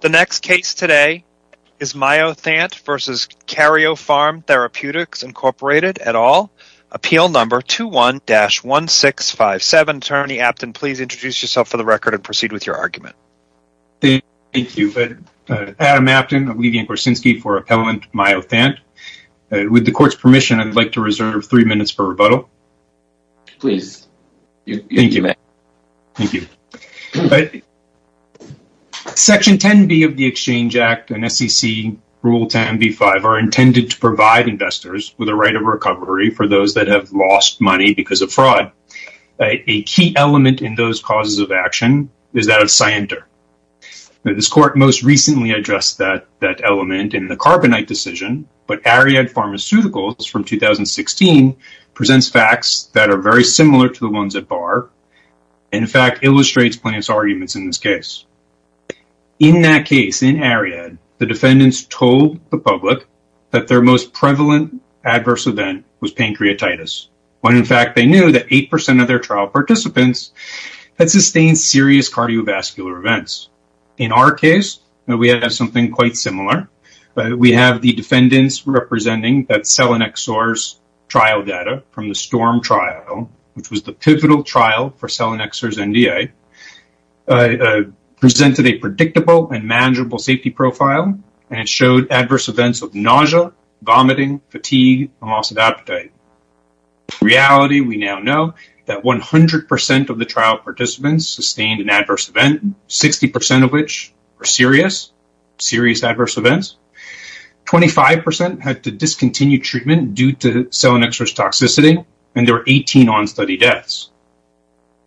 The next case today is Myothant v. Karyopharm Therapeutics Inc. et al. Appeal number 21-1657. Attorney Apton, please introduce yourself for the record and proceed with your argument. Thank you. Adam Apton. I'm leaving Korsinsky for appellant Myothant. With the court's permission, I'd like to reserve three minutes for rebuttal. Please. Thank you. Section 10b of the Exchange Act and SEC rule 10b-5 are intended to provide investors with a right of recovery for those that have lost money because of fraud. A key element in those causes of action is that of scienter. This court most recently addressed that element in the Carbonite decision, but Ariad Pharmaceuticals from 2016 presents facts that are very similar to the ones at bar and, in fact, illustrates Plaintiff's arguments in this case. In that case, in Ariad, the defendants told the public that their most prevalent adverse event was pancreatitis when, in fact, they knew that 8% of their trial participants had sustained serious cardiovascular events. In our case, we have something quite similar. We have the defendants representing that Selenexor's trial data from the STORM trial, which was the pivotal trial for Selenexor's NDA, presented a predictable and manageable safety profile and showed adverse events of nausea, vomiting, fatigue, and loss of appetite. In reality, we now know that 100% of the trial participants sustained an adverse event, 60% of which were serious adverse events, 25% had to discontinue treatment due to Selenexor's toxicity, and there were 18 on-study deaths.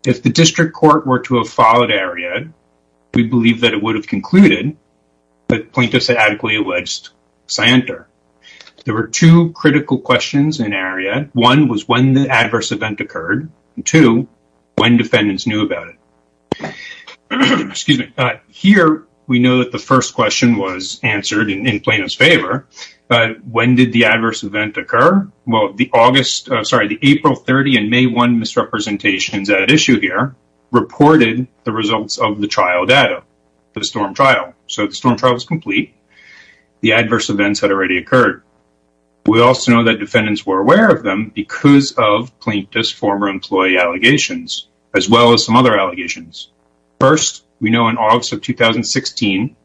If the district court were to have followed Ariad, we believe that it would have concluded that plaintiffs had adequately alleged scienter. There were two critical questions in Ariad. One was when the adverse event occurred, and two, when defendants knew about it. Excuse me. Here, we know that the first question was answered in plaintiffs' favor, but when did the adverse event occur? Well, the April 30 and May 1 misrepresentations at issue here reported the results of the trial data for the STORM trial. So, the STORM trial was complete. The adverse events had already occurred. We also know that defendants were aware of them because of plaintiffs' former employee allegations, as well as some other allegations. First, we know in August of 2016,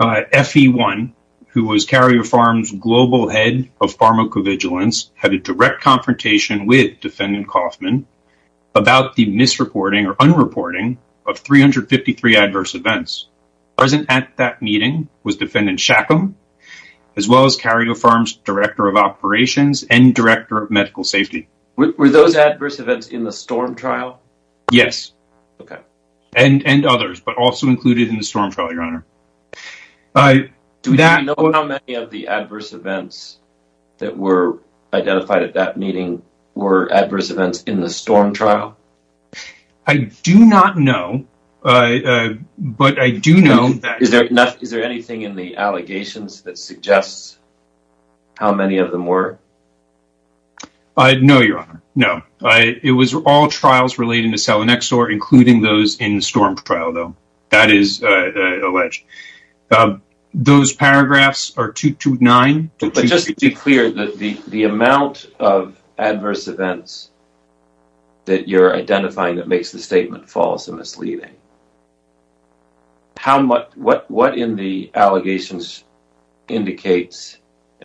FE1, who was Carrier Farms' global head of pharmacovigilance, had a direct confrontation with defendant Kaufman about the misreporting or unreporting of 353 adverse events. Present at that meeting was defendant Shackham, as well as Carrier Farms' director of operations and director of medical safety. Were those adverse events in the STORM trial? Yes. Okay. And others, but also included in the STORM trial, Your Honor. Do we know how many of the adverse events that were identified at that meeting were adverse events in the STORM trial? I do not know, but I do know that... Is there anything in the allegations that suggests how many of them were? No, Your Honor. No. It was all trials relating to Salinexor, including those in the STORM trial, though. That is alleged. Those paragraphs are 229... But just to be clear, the amount of adverse events that you're identifying that makes the statement false and misleading, what in the allegations indicates,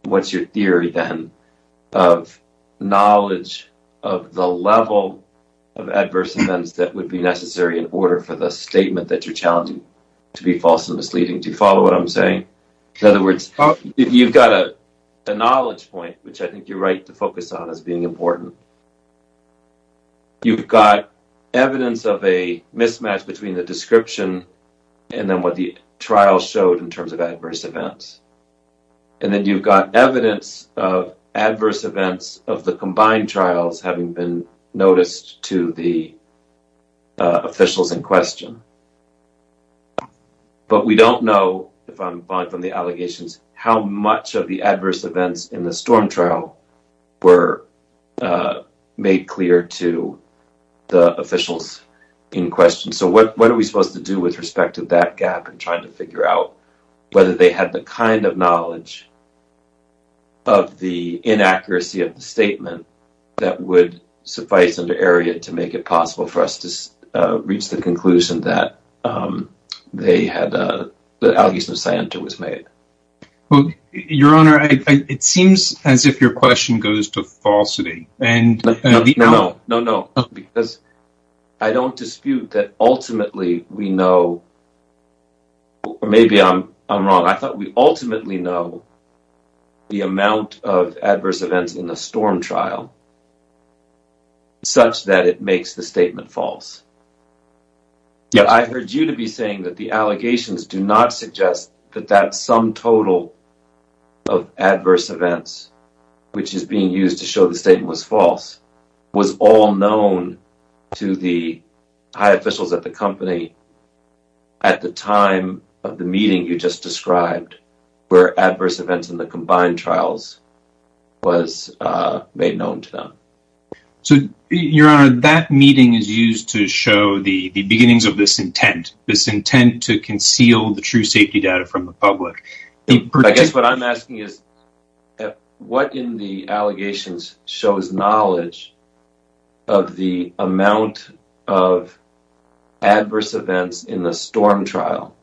what's your theory then, of knowledge of the level of adverse events that would be necessary in order for the statement that you're challenging to be false and misleading? Do you follow what I'm saying? In other words, you've got a knowledge point, which I think you're right to focus on as being important. You've got evidence of a mismatch between the description and then what the trial showed in terms of adverse events. And then you've got evidence of adverse events of the combined trials having been noticed to the officials in question. But we don't know, if I'm buying from the allegations, how much of the adverse events in the STORM trial were made clear to the officials in question. So, what are we supposed to do with respect to that gap and trying to figure out whether they had the kind of knowledge of the inaccuracy of the statement that would suffice under Erriot to make it possible for us to reach the conclusion that the allegations of scienter was made? Your Honor, it seems as if your question goes to falsity. No, no, because I don't dispute that ultimately we know, or maybe I'm wrong, I thought we ultimately know the amount of adverse events in the STORM trial such that it makes the statement false. Yeah, I heard you to be saying that the allegations do not suggest that that sum total of adverse events, which is being used to show the statement was false, was all known to the high officials at the company at the time of the meeting you just described, where adverse events were not known to them. Your Honor, that meeting is used to show the beginnings of this intent, this intent to conceal the true safety data from the public. I guess what I'm asking is what in the allegations shows knowledge of the amount of adverse events in the STORM trial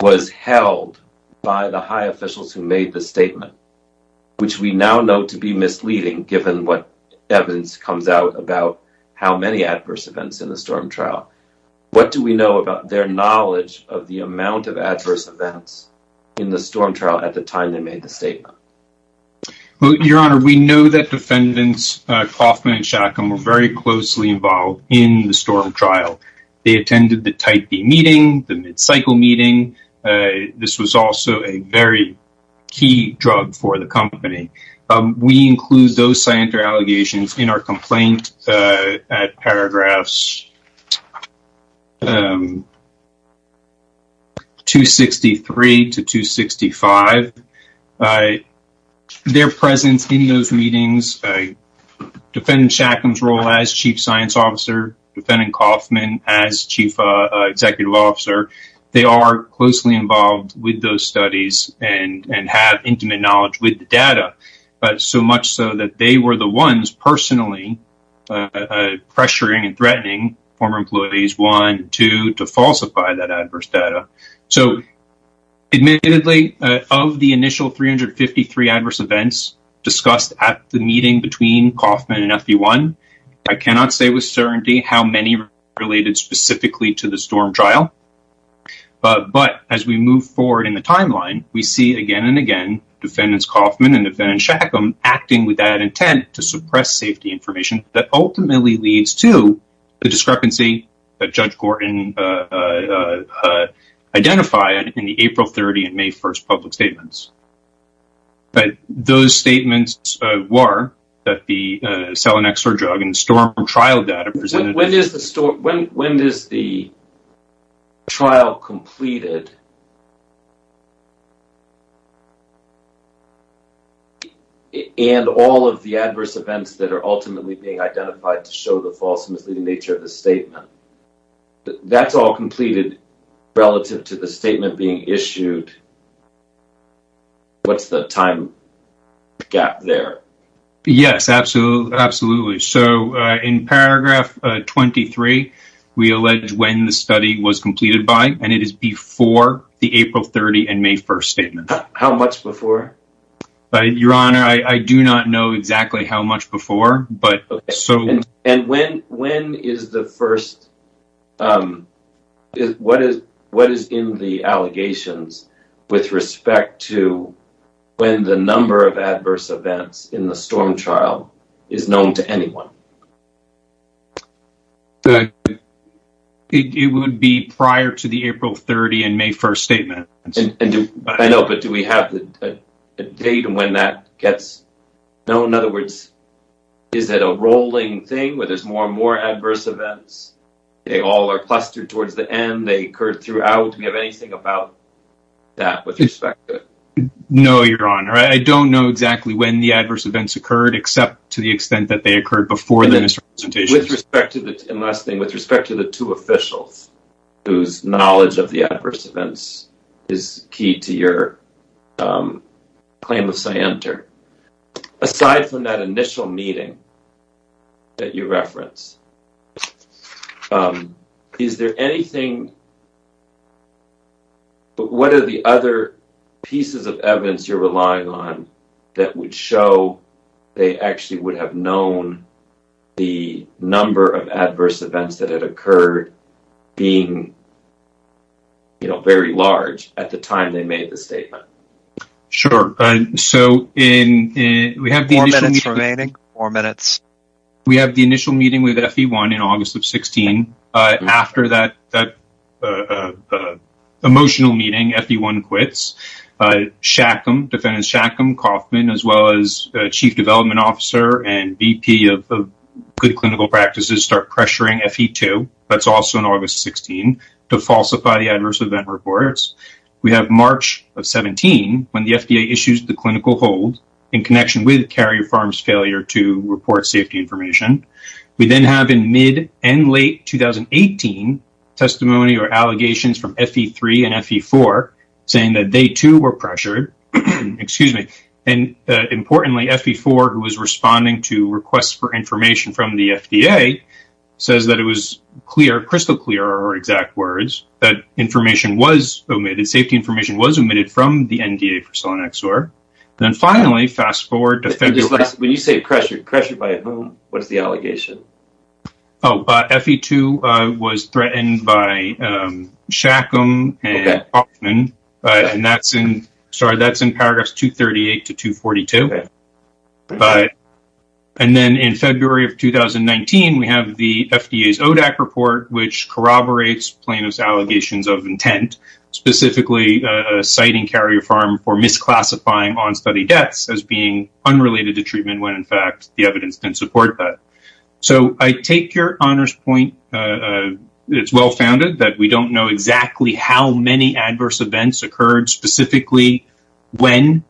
was held by the high officials who made the statement, which we now know to be misleading given what evidence comes out about how many adverse events in the STORM trial. What do we know about their knowledge of the amount of adverse events in the STORM trial at the time they made the statement? Your Honor, we know that defendants Koffman and Shackham were very closely involved in the STORM trial. They attended the type B meeting, the mid-cycle meeting. This was also a key drug for the company. We include those allegations in our complaint at paragraphs 263 to 265. Their presence in those meetings, defendant Shackham's role as chief science officer, defendant Koffman as chief executive officer, they are closely involved with those studies and have intimate knowledge with the data, but so much so that they were the ones personally pressuring and threatening former employees, one, two, to falsify that adverse data. So admittedly, of the initial 353 adverse events discussed at the meeting between Koffman and FB1, I cannot say with certainty how many related specifically to the STORM trial, but as we move forward in the timeline, we see again and again defendants Koffman and defendant Shackham acting with that intent to suppress safety information that ultimately leads to the discrepancy that Judge Gorton identified in the April 30 and May 1 public statements. But those statements were that the Selinexor drug and the STORM trial data presented when when is the trial completed and all of the adverse events that are ultimately being identified to show the false and misleading nature of the statement. That's all completed relative to the statement being issued. Yes, absolutely. So in paragraph 23, we allege when the study was completed by and it is before the April 30 and May 1 statement. How much before? Your honor, I do not know exactly how much before, but so when when is the first? What is what is in the allegations? With respect to when the number of adverse events in the STORM trial is known to anyone? It would be prior to the April 30 and May 1 statement. I know, but do we have the date and when that gets known? In other words, is it a rolling thing where there's more and more adverse events? They all are clustered towards the end. They occurred throughout. Do we have anything about that with respect to it? No, your honor, I don't know exactly when the adverse events occurred except to the extent that they occurred before the presentation. With respect to the last thing, with respect to the two officials whose knowledge of the adverse events is key to your claim of scienter, aside from that initial meeting that you reference, is there anything but what are the other pieces of evidence you're relying on that would show they actually would have known the number of adverse events that had occurred being, you know, very large at the time they made the statement? Sure. We have the initial meeting with FE1 in August of 16. After that emotional meeting, FE1 quits. Defendant Shackham, Kauffman, as well as Chief Development Officer and VP of Good Clinical Practices start pressuring FE2, that's also in August of 16, to falsify the adverse event reports. We have March of 17 when the FDA issues the clinical hold in connection with Carrier Pharm's failure to report safety information. We then have in mid and late 2018 testimony or allegations from FE3 and FE4 saying that they too were pressured, excuse me, and importantly FE4 who was responding to requests for information from the FDA says that it was clear, crystal clear, or exact words, that information was omitted, safety information was omitted from the NDA for Sonexor. Then finally, fast forward to... When you say pressured by whom, what's the allegation? Oh, FE2 was threatened by FE3. In February of 2019, we have the FDA's ODAC report which corroborates plaintiff's allegations of intent, specifically citing Carrier Pharm for misclassifying on-study deaths as being unrelated to treatment when in fact the evidence didn't support that. So I take your honor's point. It's well-founded that we don't know exactly how many adverse events occurred specifically when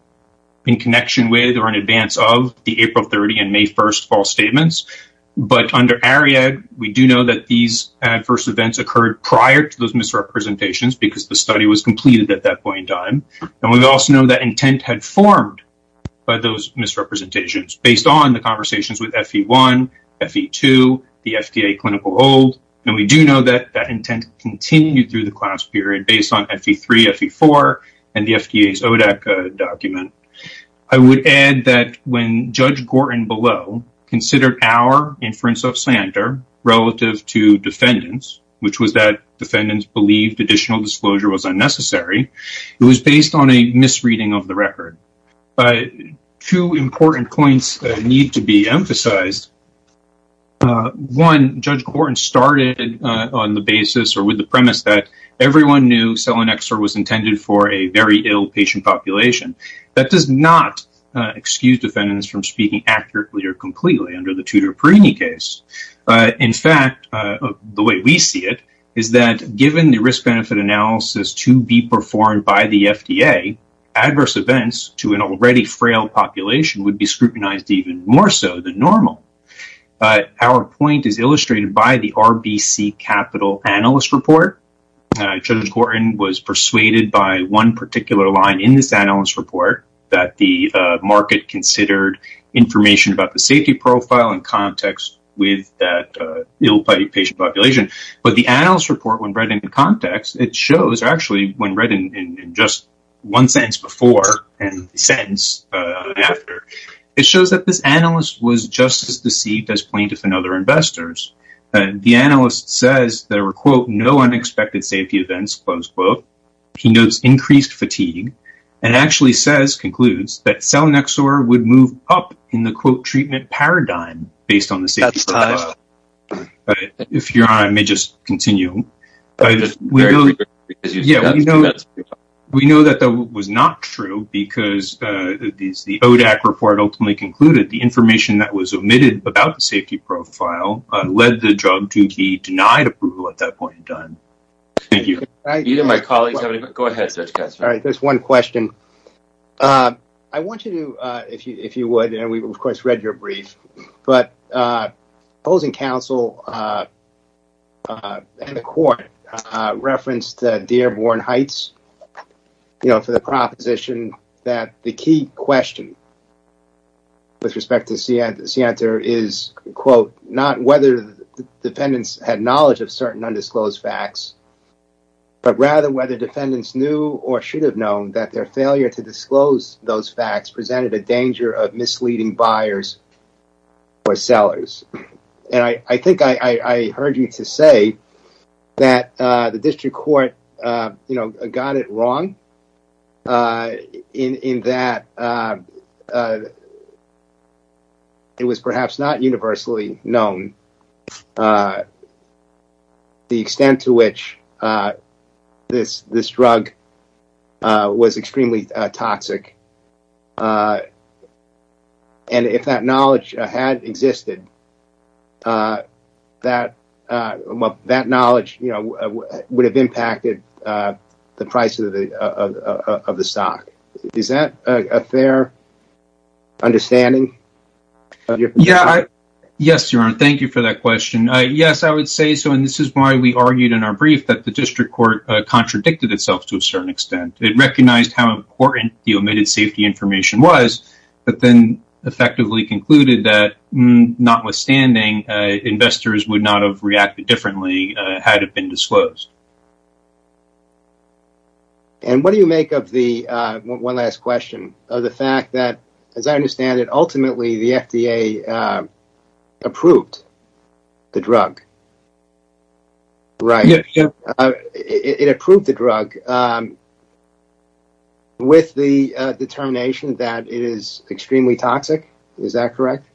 in connection with or in advance of the April 30 and May 1st false statements, but under Ariadne we do know that these adverse events occurred prior to those misrepresentations because the study was completed at that point in time, and we also know that intent had formed by those misrepresentations based on the conversations with FE1, FE2, the FDA clinical hold, and we do know that that intent continued through the document. I would add that when Judge Gorton below considered our inference of Sander relative to defendants, which was that defendants believed additional disclosure was unnecessary, it was based on a misreading of the record. Two important points need to be emphasized. One, Judge Gorton started on the basis or with the premise that everyone knew Sonexor was intended for a very ill patient population. That does not excuse defendants from speaking accurately or completely under the Tudor-Perini case. In fact, the way we see it is that given the risk-benefit analysis to be performed by the FDA, adverse events to an already frail population would be scrutinized even more so than normal. Our point is illustrated by the RBC Capital Analyst Report. Judge Gorton was persuaded by one particular line in this analyst report that the market considered information about the safety profile in context with that ill patient population, but the analyst report when read in context, it shows actually when read in just one sentence before and sentence after, it shows that this analyst was just as deceived as plaintiffs and expected safety events. He notes increased fatigue and actually concludes that Sonexor would move up in the treatment paradigm based on the safety profile. We know that that was not true because the ODAC report ultimately concluded the information that was omitted about the safety profile. I want you to, if you would, and we of course read your brief, but opposing counsel and the court referenced Dearborn Heights for the proposition that the key question with respect to Sienta is, quote, not whether defendants had knowledge of certain undisclosed facts, but rather whether defendants knew or should have known that their failure to disclose those facts presented a danger of misleading buyers or sellers. I think I heard you to say that the district court, you know, got it wrong in that it was perhaps not universally known the extent to which this drug was extremely toxic. And if that knowledge had existed, that knowledge, you know, would have impacted the price of the stock. Is that a fair understanding? Yes, Your Honor. Thank you for that question. Yes, I would say so. And this is why we argued in our brief that the district court contradicted itself to a certain extent. It recognized how important the omitted safety information was, but then effectively concluded that, notwithstanding, investors would not have reacted differently had it been disclosed. And what do you make of the, one last question, of the fact that, as I understand it, ultimately the FDA approved the drug, right? It approved the drug. With the determination that it is extremely toxic, is that correct?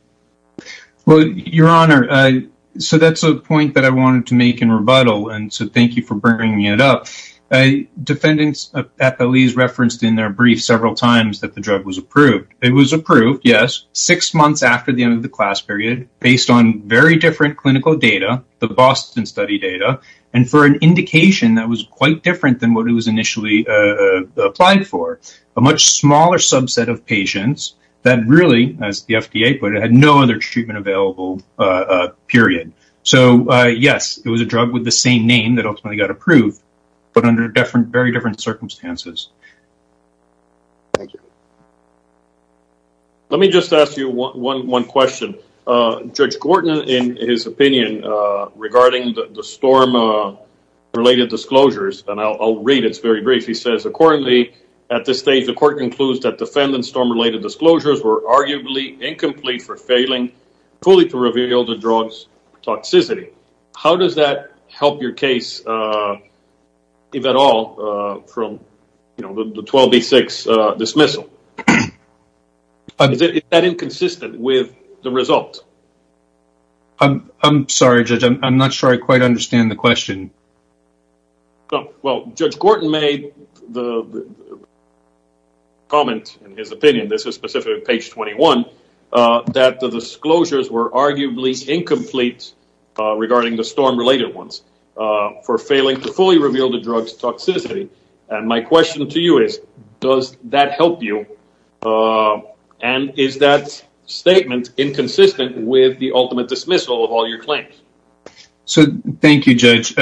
Well, Your Honor, so that's a point that I wanted to make in rebuttal, and so thank you for bringing me it up. Defendants at the lease referenced in their brief several times that the drug was approved. It was approved, yes, six months after the end of the class period, based on very different clinical data, the Boston study data, and for an indication that was quite different than what it initially applied for. A much smaller subset of patients that really, as the FDA put it, had no other treatment available, period. So, yes, it was a drug with the same name that ultimately got approved, but under very different circumstances. Thank you. Let me just ask you one question. Judge Gorton, in his opinion, regarding the storm-related disclosures, and I'll read it, it's very brief, he says, accordingly, at this stage, the court concludes that defendant storm-related disclosures were arguably incomplete for failing fully to reveal the drug's toxicity. How does that help your case, if at all, from, you know, the 12B6 dismissal? Is that inconsistent with the result? I'm sorry, Judge, I'm not sure I quite understand the question. Well, Judge Gorton made the comment, in his opinion, this is specifically page 21, that the disclosures were arguably incomplete regarding the storm-related ones, for failing to fully reveal the drug's toxicity, and my question to you is, does that help you, and is that statement inconsistent with the ultimate dismissal of all your claims? So, thank you, Judge.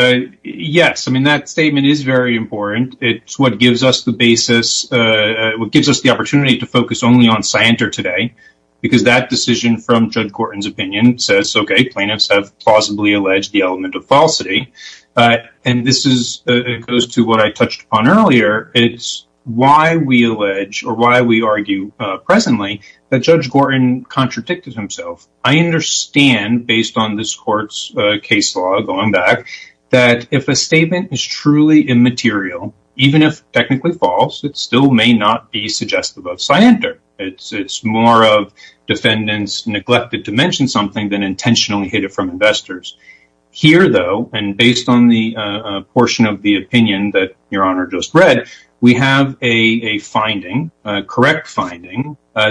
Yes, I mean, that statement is very important. It's what gives us the basis, what gives us the opportunity to focus only on Scienter today, because that decision from Judge Gorton's opinion says, okay, plaintiffs have plausibly alleged the element of falsity, and this is, it goes to what I touched upon earlier. It's why we allege, or why we argue presently, that Judge Gorton contradicted himself. I understand, based on this court's case law, going back, that if a statement is truly immaterial, even if technically false, it still may not be suggestive of Scienter. It's more of defendants neglected to mention something than intentionally hid it from investors. Here, though, and based on the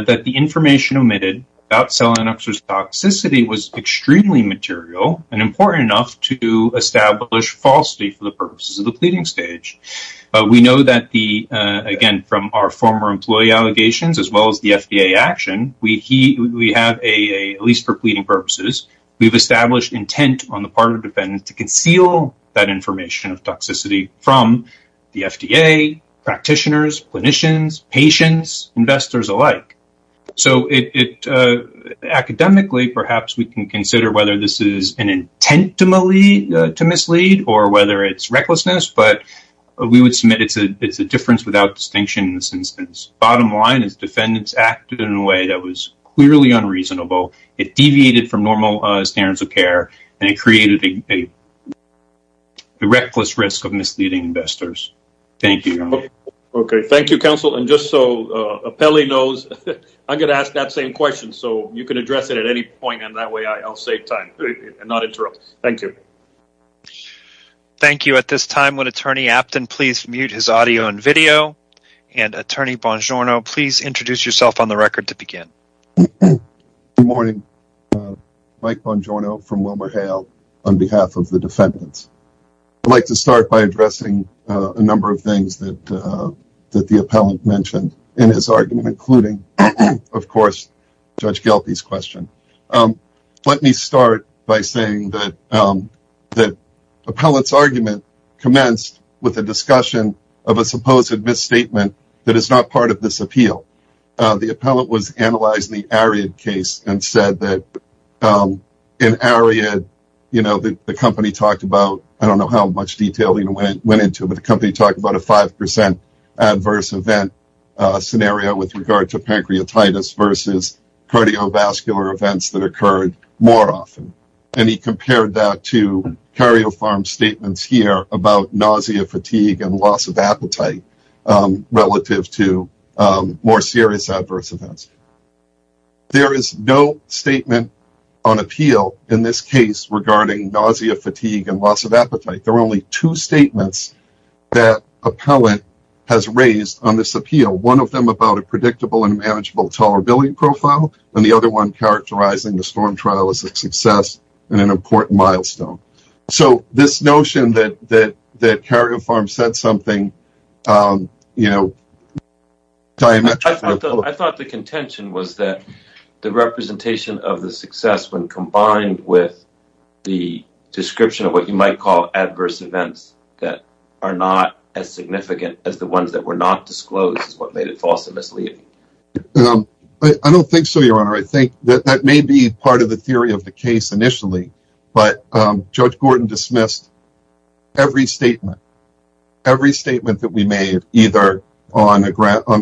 that the information omitted about Selenoxer's toxicity was extremely material and important enough to establish falsity for the purposes of the pleading stage. We know that the, again, from our former employee allegations, as well as the FDA action, we have a, at least for pleading purposes, we've established intent on the part of defendants to conceal that information of So it, academically, perhaps we can consider whether this is an intent to mislead or whether it's recklessness, but we would submit it's a difference without distinction in this instance. Bottom line is defendants acted in a way that was clearly unreasonable. It deviated from normal standards of care, and it created a reckless risk of misleading investors. Thank you. Okay. Thank you, counsel. And just so Apelli knows, I'm going to ask that same question, so you can address it at any point, and that way I'll save time and not interrupt. Thank you. Thank you. At this time, would Attorney Apton please mute his audio and video? And Attorney Bongiorno, please introduce yourself on the record to begin. Good morning. Mike Bongiorno from WilmerHale on behalf of the defendants. I'd like to start by that the appellant mentioned in his argument, including, of course, Judge Gelty's question. Let me start by saying that the appellant's argument commenced with a discussion of a supposed misstatement that is not part of this appeal. The appellant was analyzing the Ariad case and said that in Ariad, you know, the company talked about, I don't know how much detail went into, but the company talked about a 5% adverse event scenario with regard to pancreatitis versus cardiovascular events that occurred more often. And he compared that to CarioPharm's statements here about nausea, fatigue, and loss of appetite relative to more serious adverse events. There is no statement on appeal in this case regarding nausea, fatigue, and loss of appetite. There are only two statements that appellant has raised on this appeal, one of them about a predictable and manageable tolerability profile and the other one characterizing the storm trial as a success and an important milestone. So, this notion that CarioPharm said something, you know, I thought the contention was that the representation of the success when combined with the description of what you might call adverse events that are not as significant as the ones that were not disclosed is what made it false and misleading. I don't think so, your honor. I think that may be part of the theory of the case initially, but Judge Gordon dismissed every statement. Every statement that we made either on the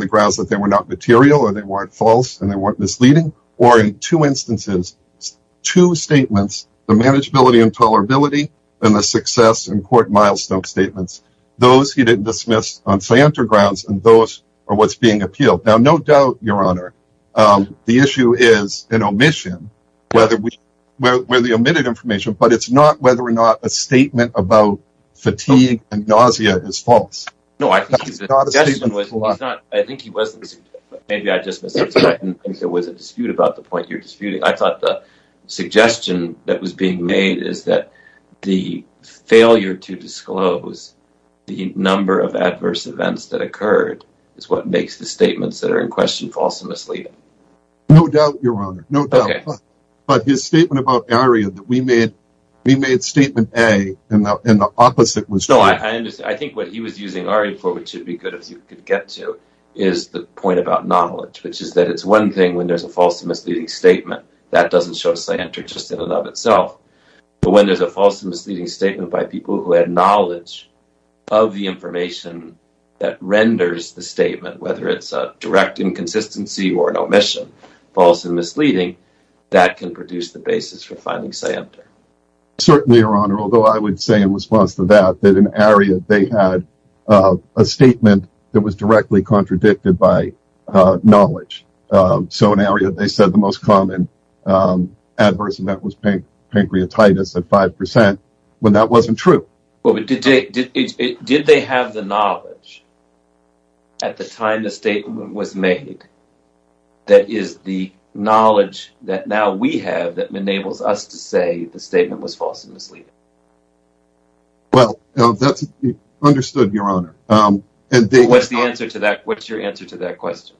grounds that they were not material or weren't misleading or in two instances, two statements, the manageability and tolerability and the success and important milestone statements. Those he didn't dismiss on scientific grounds and those are what's being appealed. Now, no doubt, your honor, the issue is an omission where the omitted information, but it's not whether or not a statement about fatigue and nausea is false. No, I think he wasn't. Maybe I didn't think there was a dispute about the point you're disputing. I thought the suggestion that was being made is that the failure to disclose the number of adverse events that occurred is what makes the statements that are in question false and misleading. No doubt, your honor, no doubt, but his statement about ARIA that we made, we made statement A and the opposite was. No, I understand. I think what he was using ARIA for, which should be good if you could get to, is the point about knowledge, which is that it's one thing when there's a false and misleading statement that doesn't show a scienter just in and of itself, but when there's a false and misleading statement by people who had knowledge of the information that renders the statement, whether it's a direct inconsistency or an omission, false and misleading, that can produce the basis for finding scienter. Certainly, your honor, although I would say in response to that, in ARIA, they had a statement that was directly contradicted by knowledge. So in ARIA, they said the most common adverse event was pancreatitis at 5% when that wasn't true. Did they have the knowledge at the time the statement was made that is the knowledge that now we have that enables us to say the statement was false and misleading? Well, that's understood, your honor. What's the answer to that? What's your answer to that question?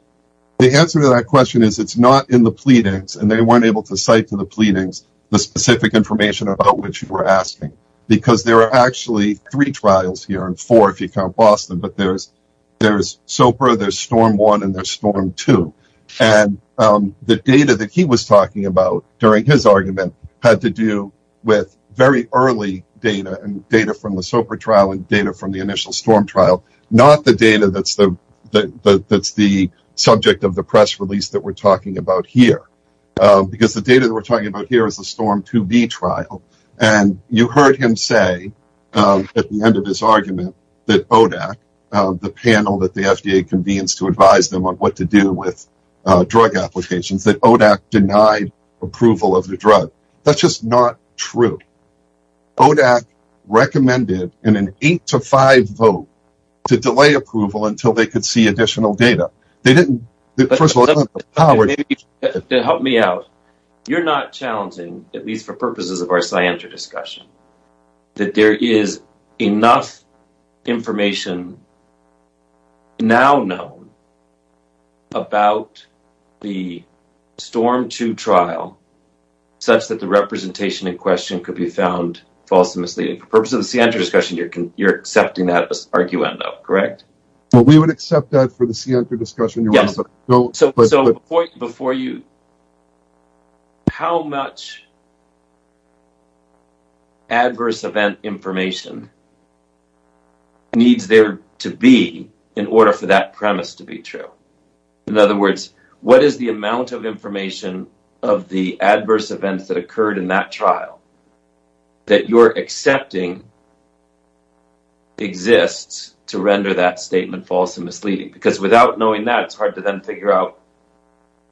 The answer to that question is it's not in the pleadings and they weren't able to cite to the pleadings the specific information about which you were asking, because there are actually three trials here and four if you count Boston, but there's SOPRA, there's Storm 1, and there's Storm 2. And the data that he was talking about during his argument had to do with very early data and data from the SOPRA trial and data from the initial Storm trial, not the data that's the subject of the press release that we're talking about here, because the data that we're talking about here is the Storm 2B trial. And you heard him say at the end of his argument that ODAC, the panel that the FDA convenes to advise them on what to do with drug applications, that ODAC denied approval of the drug. That's just not true. ODAC recommended in an eight to five vote to delay approval until they could see additional data. They didn't. Help me out. You're not challenging, at least for purposes of our scienter discussion, that there is enough information now known about the Storm 2 trial such that the representation in question could be found false and misleading. For purposes of the scienter discussion, you're accepting that as arguendo, correct? Well, we would accept that for the scienter discussion. Yes. So, before you, how much adverse event information needs there to be in order for that premise to be true? In other words, what is the amount of information of the adverse events that occurred in that trial that you're accepting exists to render that statement false and misleading? Because without knowing that, it's hard to then figure out,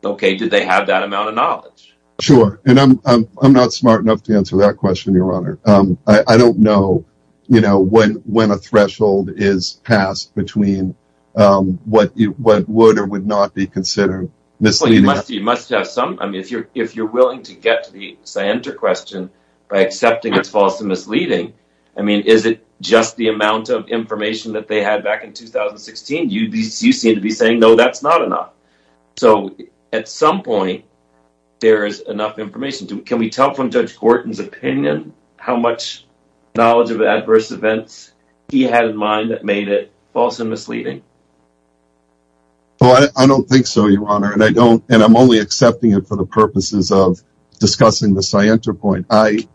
okay, did they have that amount of knowledge? Sure. And I'm not smart enough to answer that question, Your Honor. I don't know when a threshold is passed between what would or would not be considered misleading. I mean, if you're willing to get to the scienter question by accepting it's false and misleading, I mean, is it just the amount of information that they had back in 2016? You seem to be saying, no, that's not enough. So, at some point, there is enough information. Can we tell from Judge Gorton's opinion how much knowledge of adverse events he had in mind that made it false and misleading? I'm only accepting it for the purposes of discussing the scienter point. In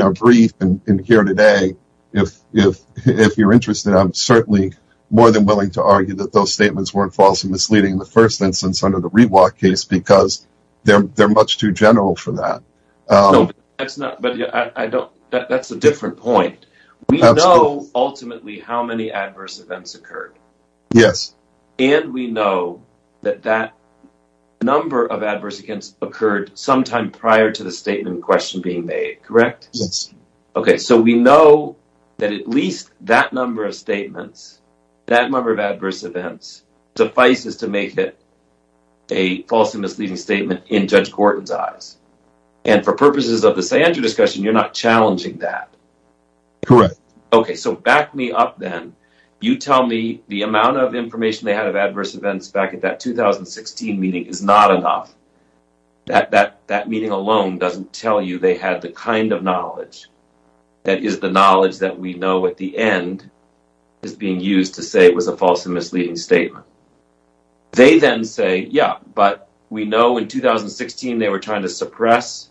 our brief and here today, if you're interested, I'm certainly more than willing to argue that those statements weren't false and misleading in the first instance under the Rewalk case because they're much too general for that. That's a different point. We know ultimately how many adverse events occurred. Yes. And we know that that number of adverse events occurred sometime prior to the statement question being made, correct? Yes. Okay. So, we know that at least that number of statements, that number of adverse events, suffices to make it a false and misleading statement in Judge Gorton's eyes. And for purposes of the scienter discussion, you're not challenging that. Correct. Okay. So, back me up then. You tell me the amount of information they had of adverse events back at that 2016 meeting is not enough. That meeting alone doesn't tell you they had the kind of knowledge that is the knowledge that we know at the end is being used to say it was a false and misleading statement. They then say, yeah, but we know in 2016, they were trying to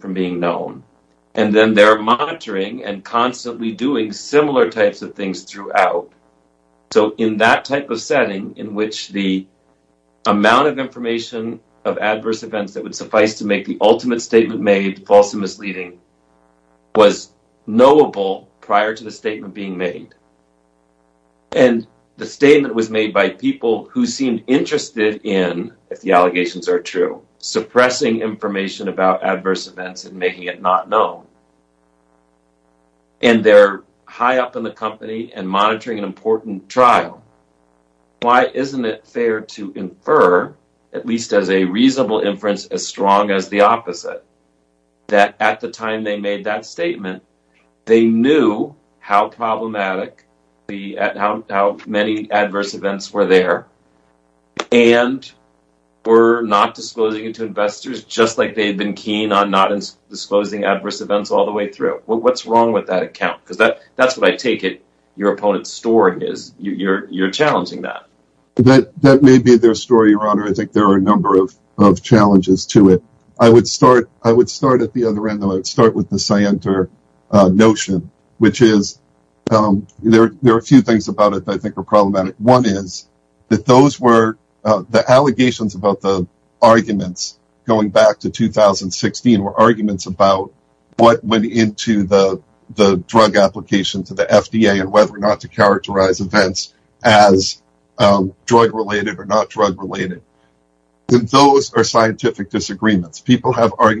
from being known. And then they're monitoring and constantly doing similar types of things throughout. So, in that type of setting in which the amount of information of adverse events that would suffice to make the ultimate statement made false and misleading was knowable prior to the statement being made. And the statement was made by people who seemed interested in, if the making it not known. And they're high up in the company and monitoring an important trial. Why isn't it fair to infer, at least as a reasonable inference, as strong as the opposite? That at the time they made that statement, they knew how problematic, how many adverse events were there. And we're not disclosing it to investors, just like they've been keen on not disclosing adverse events all the way through. What's wrong with that account? Because that's what I take it. Your opponent's story is you're challenging that. That may be their story, your honor. I think there are a number of challenges to it. I would start at the other end. I would start with the Cienter notion, which is, there are a few things about it that I think are problematic. One is that those were the allegations about the arguments going back to 2016 were arguments about what went into the drug application to the FDA and whether or not to characterize events as drug-related or not drug-related. Those are scientific disagreements. People have where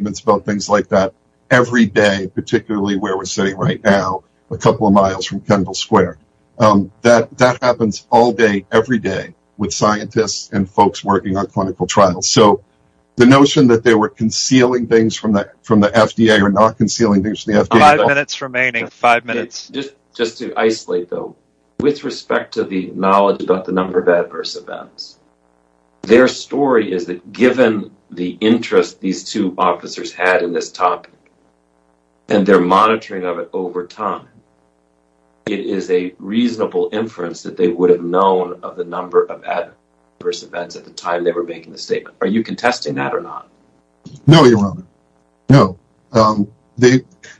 we're sitting right now, a couple of miles from Kendall Square. That happens all day, every day, with scientists and folks working on clinical trials. The notion that they were concealing things from the FDA or not concealing things from the FDA— Five minutes remaining. Five minutes. Just to isolate, though, with respect to the knowledge about the number of adverse events, their story is that given the interest these two officers had in this topic and their monitoring of it over time, it is a reasonable inference that they would have known of the number of adverse events at the time they were making the statement. Are you contesting that or not? No, your honor. No.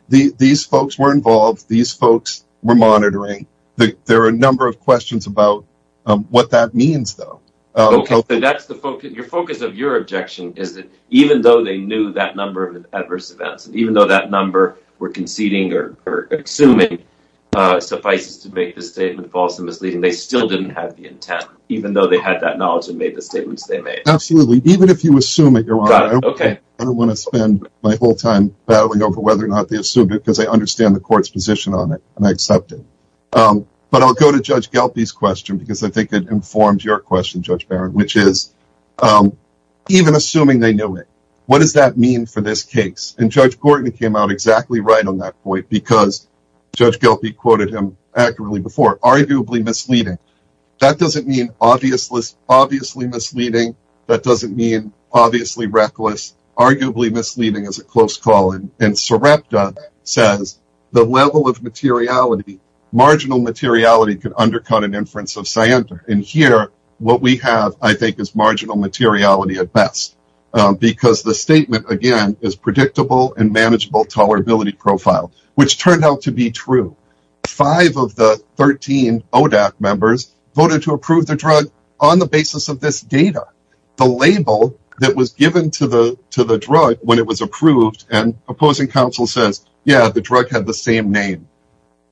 These folks were involved. These folks were monitoring. There are a number of questions about what that means, though. Okay. Your focus of your objection is that though they knew that number of adverse events and even though that number were conceding or assuming suffices to make the statement false and misleading, they still didn't have the intent, even though they had that knowledge and made the statements they made. Absolutely. Even if you assume it, your honor, I don't want to spend my whole time battling over whether or not they assumed it because I understand the court's position on it and I accept it. But I'll go to Judge Galpi's question because I think it informs your question, Judge Barron, which is even assuming they knew it, what does that mean for this case? And Judge Gorton came out exactly right on that point because Judge Galpi quoted him accurately before, arguably misleading. That doesn't mean obviously misleading. That doesn't mean obviously reckless. Arguably misleading is a close call. And Sarepta says the level of materiality, marginal materiality, undercut an inference of Sarepta. And here, what we have, I think, is marginal materiality at best because the statement, again, is predictable and manageable tolerability profile, which turned out to be true. Five of the 13 ODAC members voted to approve the drug on the basis of this data. The label that was given to the drug when it was approved and opposing counsel says, yeah, the drug had the same name.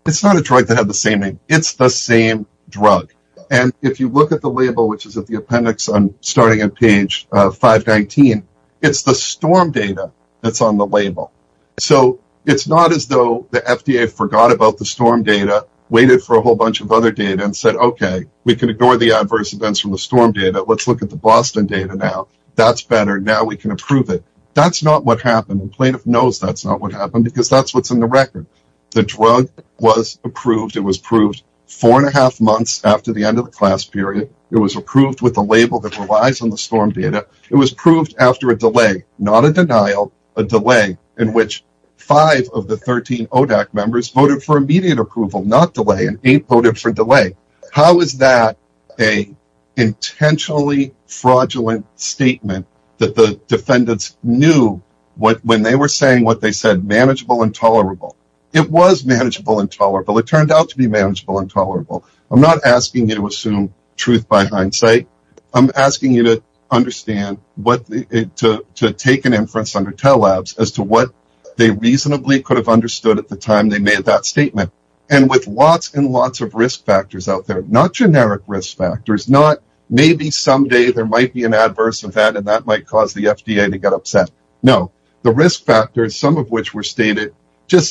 It's not a drug that had the same name. It's the same drug. And if you look at the label, which is at the appendix on starting on page 519, it's the storm data that's on the label. So it's not as though the FDA forgot about the storm data, waited for a whole bunch of other data and said, OK, we can ignore the adverse events from the storm data. Let's look at the Boston data now. That's better. Now we can approve it. That's not what happened. The plaintiff knows that's not what happened because that's what's in the record. The drug was approved. It was approved four and a half months after the end of the class period. It was approved with the label that relies on the storm data. It was proved after a delay, not a denial, a delay in which five of the 13 ODAC members voted for immediate approval, not delay, and eight voted for delay. How is that a intentionally fraudulent statement that the defendants knew when they were saying what they said, manageable and tolerable? It was manageable and tolerable. It turned out to be manageable and tolerable. I'm not asking you to assume truth by hindsight. I'm asking you to understand what to take an inference under TELLABS as to what they reasonably could have understood at the time they made that statement. And with lots and lots of risk factors out there, not generic risk factors, not maybe someday there might be an adverse event and that might cause the FDA to get upset. No, the risk factors, some of which were stated. Does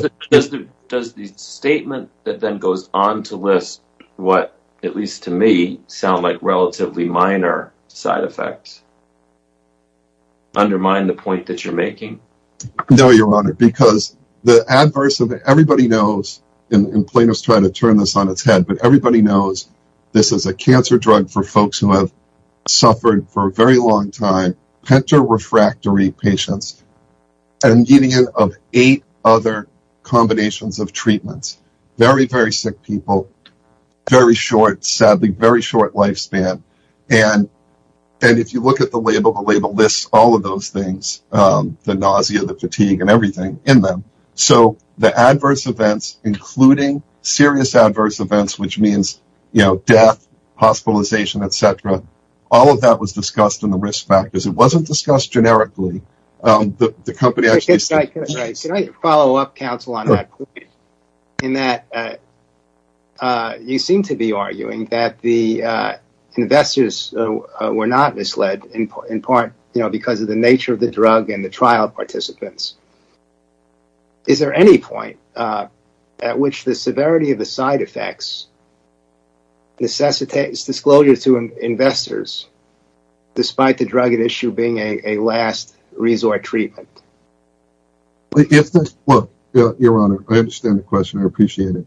the statement that then goes on to list what, at least to me, sound like relatively minor side effects undermine the point that you're making? No, your honor, because the adverse of it, everybody knows, and plaintiffs try to turn this on its head, but everybody knows this is a cancer drug for folks who have suffered for a long time, pentorefractory patients, a median of eight other combinations of treatments. Very, very sick people, very short, sadly, very short lifespan. And if you look at the label, the label lists all of those things, the nausea, the fatigue and everything in them. So the adverse events, including serious adverse events, which means, you know, death, hospitalization, etc. All of that was discussed in the risk factors. It wasn't discussed generically. Can I follow up, counsel, in that you seem to be arguing that the investors were not misled in part because of the nature of the drug and the trial participants. Is there any point at which the severity of the side effects necessitates disclosure to investors, despite the drug at issue being a last resort treatment? Well, your honor, I understand the question, I appreciate it.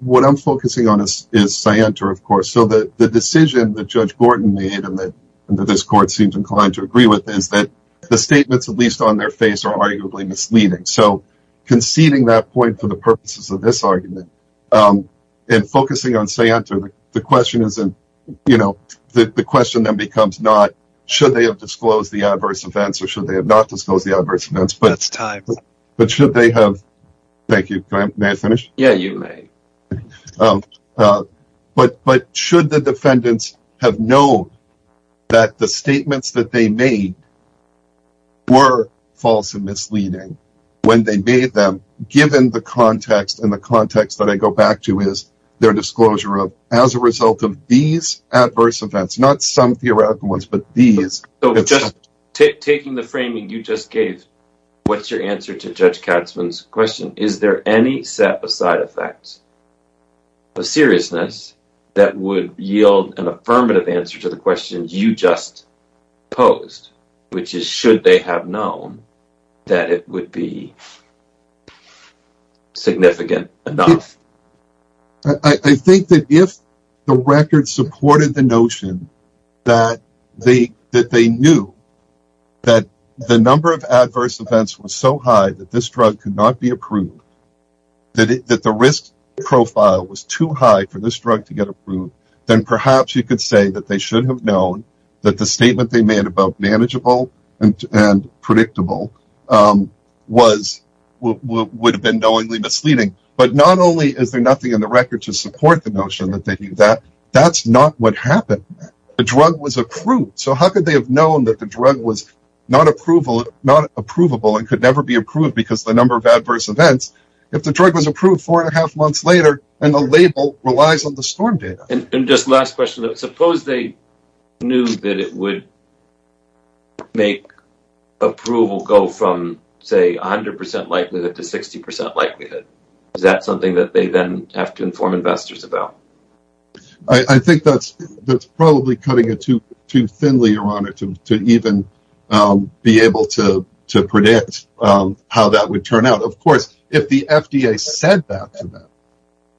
What I'm focusing on is scienter, of course, so that the decision that Judge Gordon made and that this court seems inclined to agree with is that the statements, at least on their face, are arguably misleading. So conceding that point for the purposes of this argument and focusing on scienter, the question is, you know, the question then becomes not should they have disclosed the adverse events or should they have not disclosed the adverse events, but it's time. But should they have? Thank you. May I finish? Yeah, you may. But should the defendants have known that the statements that they made were false and misleading when they made them, given the context and the context that I go back to is their disclosure of as a result of these adverse events, not some theoretical ones, but these. So just taking the framing you just gave, what's your answer to Judge Katzmann's question? Is there any set of side effects, a seriousness that would yield an affirmative answer to the questions you just posed, which is should they have known that it would be significant enough? I think that if the record supported the notion that they knew that the number of adverse events was so high that this drug could not be approved, that the risk profile was too high for this drug to get approved, then perhaps you could say that they should have known that the statement they made about manageable and predictable would have been knowingly misleading. But not only is there nothing in the record to support the notion that they knew that, that's not what happened. The record could never be approved because of the number of adverse events. If the drug was approved four and a half months later and the label relies on the storm data. And just last question, suppose they knew that it would make approval go from say 100% likelihood to 60% likelihood, is that something that they then have to inform investors about? I think that's probably cutting too thinly, your honor, to even be able to predict how that would turn out. Of course, if the FDA said that to them,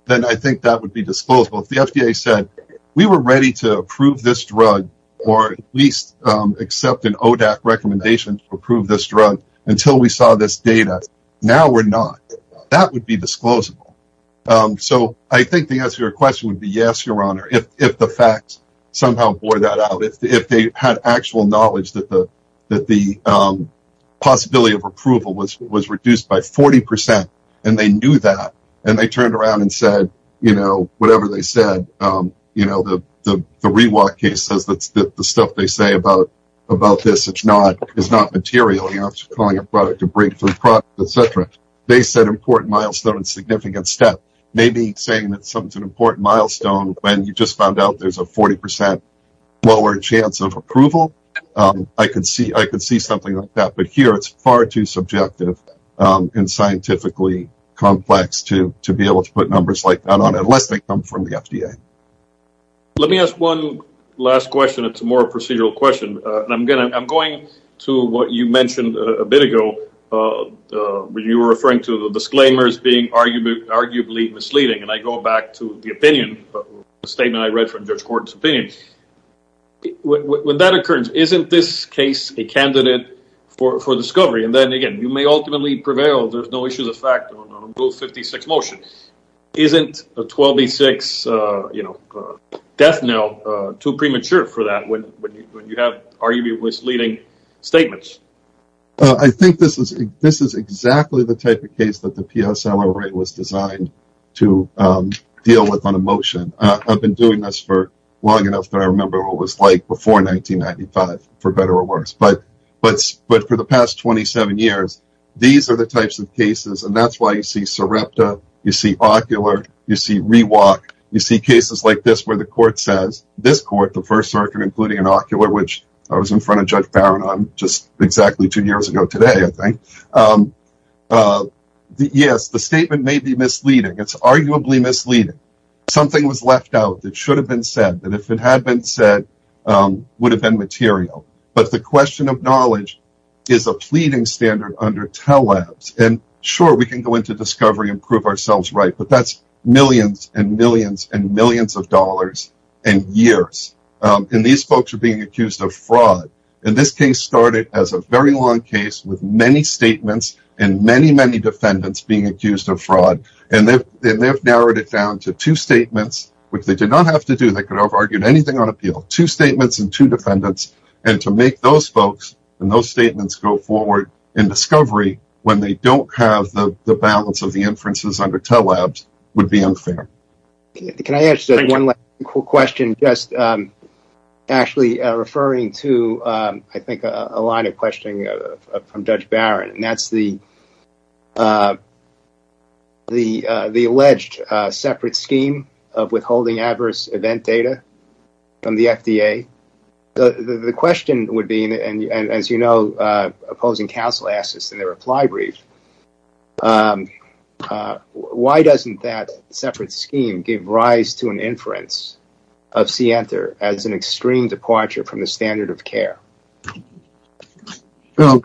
then I think that would be disclosable. If the FDA said we were ready to approve this drug or at least accept an ODAC recommendation to approve this drug until we saw this data, now we're not. That would be disclosable. So I think the answer to your question is, if they had actual knowledge that the possibility of approval was reduced by 40% and they knew that, and they turned around and said, whatever they said, the Rewalk case says that the stuff they say about this is not material. You're not calling a product a breakthrough product, et cetera. They set an important milestone and significant step. Maybe saying that something's an important milestone when you just found out there's a 40% chance of approval, I could see something like that. But here it's far too subjective and scientifically complex to be able to put numbers like that on unless they come from the FDA. Let me ask one last question. It's a more procedural question. I'm going to what you mentioned a bit ago when you were referring to the disclaimers being arguably misleading. I go with that occurrence. Isn't this case a candidate for discovery? And then again, you may ultimately prevail. There's no issue of the fact on a rule 56 motion. Isn't a 12B6 death knell too premature for that when you have arguably misleading statements? I think this is exactly the type of case that the PSLR rate was designed to deal with on a motion. I've been doing this for long enough that I remember what it was like before 1995, for better or worse. But for the past 27 years, these are the types of cases. And that's why you see Sarepta, you see Ocular, you see Rewalk, you see cases like this where the court says, this court, the First Circuit, including an Ocular, which I was in front of Judge Barron on just exactly two years ago today, I think. Yes, the statement may be misleading. It's left out. It should have been said that if it had been said, it would have been material. But the question of knowledge is a pleading standard under TELLABS. And sure, we can go into discovery and prove ourselves right. But that's millions and millions and millions of dollars and years. And these folks are being accused of fraud. And this case started as a very long case with many statements and many, many defendants being accused of fraud. And they've narrowed it down to two statements, which they did not have to do. They could have argued anything on appeal. Two statements and two defendants. And to make those folks and those statements go forward in discovery when they don't have the balance of the inferences under TELLABS would be unfair. Can I ask one last question, just actually referring to, I think, a line of questioning from Judge Barron, and that's the alleged separate scheme of withholding adverse event data from the FDA. The question would be, and as you know, opposing counsel asked this in their reply brief, why doesn't that separate scheme give rise to an inference of Sienter as an extreme departure from the standard of care?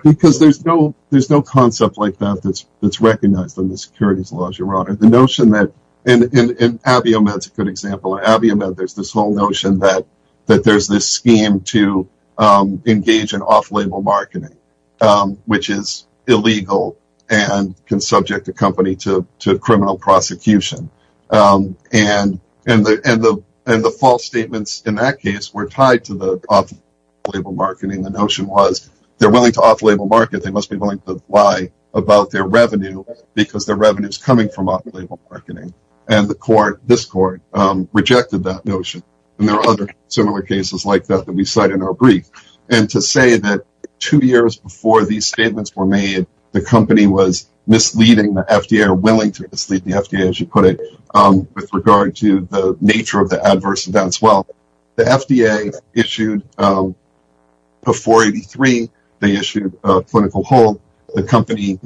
Because there's no concept like that that's recognized in the securities laws, Your Honor. The notion that, and AbioMed's a good example. AbioMed, there's this whole notion that there's this scheme to engage in off-label marketing, which is illegal and can subject a company to criminal prosecution. And the false statements in that case were tied to the off-label marketing. The notion was they're willing to off-label market, they must be willing to lie about their revenue because their revenue is coming from off-label marketing. And the court, this court, rejected that notion. And there are other similar cases like that that we cite in our brief. And to say that two years before these statements were made, the company was misleading the FDA, or willing to mislead the FDA, as you put it, with regard to the nature of the adverse events. Well, the FDA issued a 483. They issued a clinical hold. The company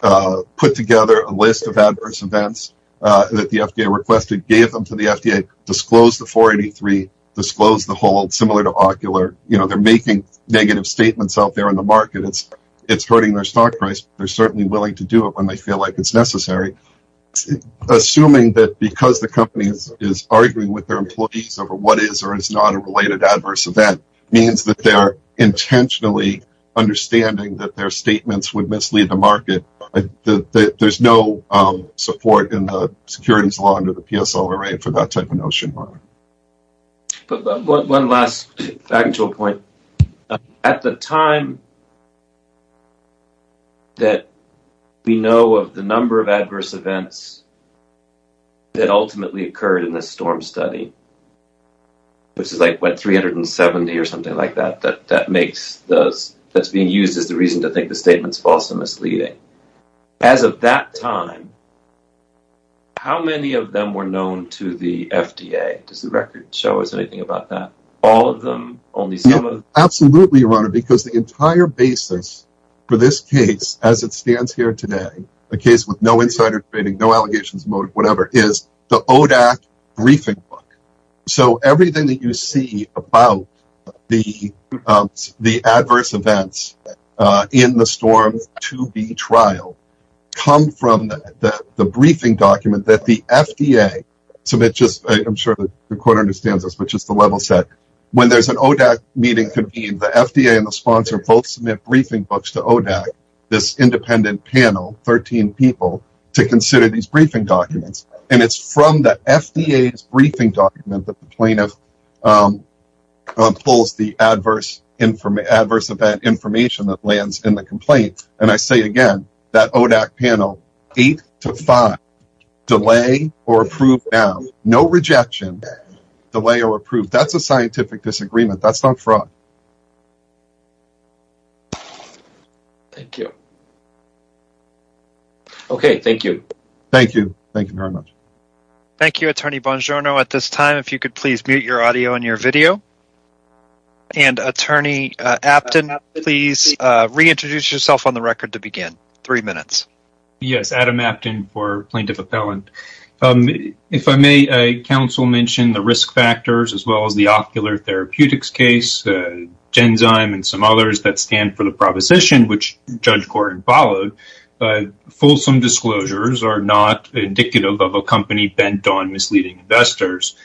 put together a list of adverse events that the FDA requested, gave them to the FDA, disclosed the 483, disclosed the hold, similar to Ocular. They're making negative statements out there in the they're certainly willing to do it when they feel like it's necessary. Assuming that because the company is arguing with their employees over what is or is not a related adverse event means that they are intentionally understanding that their statements would mislead the market. There's no support in the securities law under the PSLRA for that type of notion. But one last actual point. At the time that we know of the number of adverse events that ultimately occurred in this STORM study, which is like what, 370 or something like that, that makes those, that's being used as the reason to think the statement's false and misleading. As of that time, how many of them were known to the FDA? Does the record show us anything about that? All of them, only some of them? Absolutely, your honor, because the entire basis for this case as it stands here today, a case with no insider trading, no allegations, motive, whatever, is the ODAC briefing book. So everything that you see about the adverse events in the STORM 2B trial come from the briefing document that the FDA submits. I'm sure the court understands this, but just the level set. When there's an ODAC meeting convened, the FDA and the sponsor both submit briefing books to ODAC, this independent panel, 13 people, to consider these briefing documents. And it's from the FDA's briefing document that the plaintiff pulls the adverse event information that lands in the complaint. And I say again, that ODAC panel, 8 to 5, delay or approve now. No rejection, delay or approve. That's a scientific disagreement. That's not fraud. Thank you. Okay, thank you. Thank you. Thank you very much. Thank you, Attorney Bongiorno. At this time, if you could please mute your audio and your video. And Attorney Apton, please reintroduce yourself on the record to begin. Three minutes. Yes, Adam Apton for Plaintiff Appellant. If I may, counsel mentioned the risk factors as well as the ocular therapeutics case, Genzyme and some others that stand for the proposition, which Judge Gordon followed. Folsom disclosures are not indicative of a company bent on misleading investors.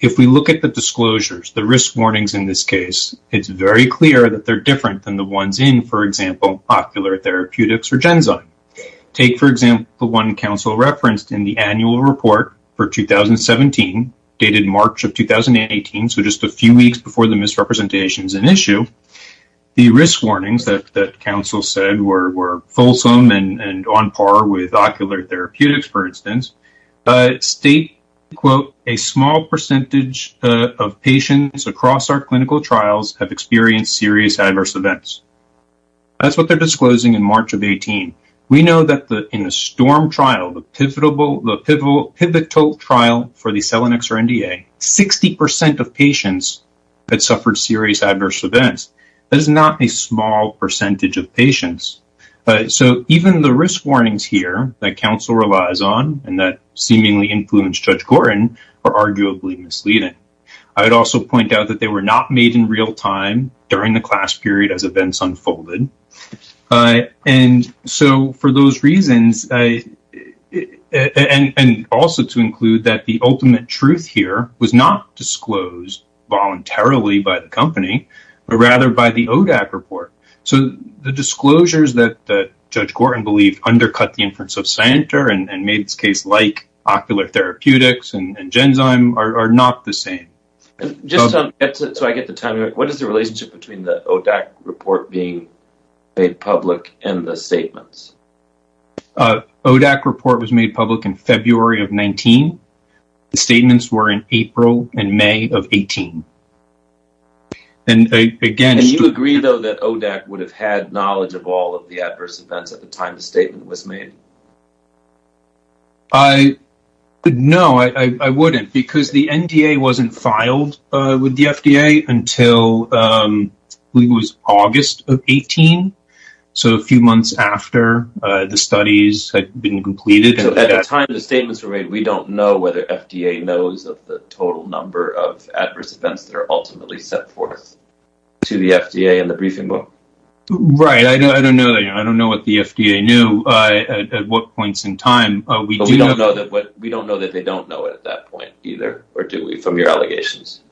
If we look at the disclosures, the risk warnings in this case, it's very clear that they're different than the ones in, for example, ocular therapeutics or Genzyme. Take, for example, the one counsel referenced in the annual report for 2017, dated March of 2018, so just a few weeks before the misrepresentation is an issue. The risk warnings that counsel said were Folsom and on par with ocular therapeutics, for instance, state, quote, a small percentage of patients across our clinical trials have experienced serious adverse events. That's what they're disclosing in March of 18. We know that in the STORM trial, the pivotal trial for the Selenix or NDA, 60% of patients had suffered serious adverse events. That is not a small percentage of patients. So even the risk warnings here that counsel relies on and that seemingly influenced Judge Gordon are arguably misleading. I would also point out that they were not made in real time during the class period as events unfolded. And so for those reasons, and also to include that the ultimate truth here was not disclosed voluntarily by the company, but rather by the ODAC report. So the disclosures that Judge Gordon believed undercut the inference of Santer and made this case like ocular therapeutics and Genzyme are not the same. Just so I get the timing, what is the relationship between the ODAC report being made public and the statements? ODAC report was made public in February of 19. The statements were in April and May of 18. And you agree though that ODAC would have had the time the statement was made? No, I wouldn't because the NDA wasn't filed with the FDA until I believe it was August of 18. So a few months after the studies had been completed. At the time the statements were made, we don't know whether FDA knows of the total number of adverse events that are ultimately set forth to the FDA in the briefing book. Right. I don't know. I don't know what the FDA knew at what points in time. We don't know that. We don't know that they don't know at that point either, or do we from your allegations?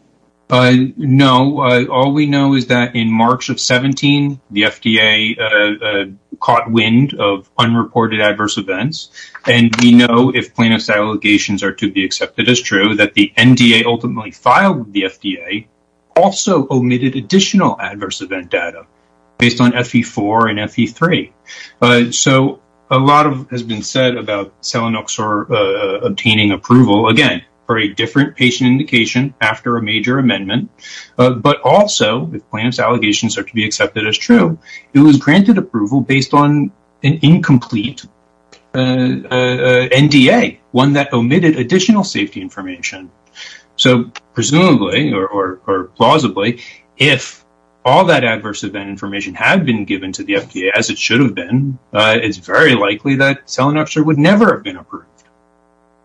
No. All we know is that in March of 17, the FDA caught wind of unreported adverse events. And we know if plaintiff's allegations are to be accepted as true that the NDA ultimately filed with the FDA also omitted additional adverse event data based on FE4 and FE3. So a lot has been said about Selenoxor obtaining approval again, for a different patient indication after a major amendment. But also if plaintiff's allegations are to be accepted as true, it was granted approval based on an incomplete NDA, one that omitted additional safety information. So presumably or plausibly, if all that adverse event information had been given to the FDA, as it should have been, it's very likely that Selenoxor would never have been approved.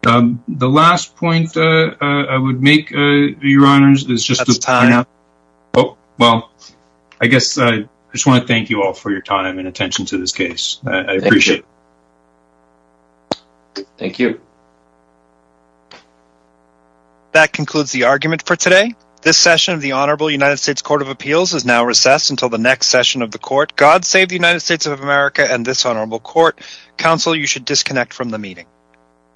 The last point I would make, your honors, is just... Well, I guess I just want to thank you all for your time and attention to this case. Thank you. That concludes the argument for today. This session of the Honorable United States Court of Appeals is now recessed until the next session of the court. God save the United States of America and this honorable court. Counsel, you should disconnect from the meeting.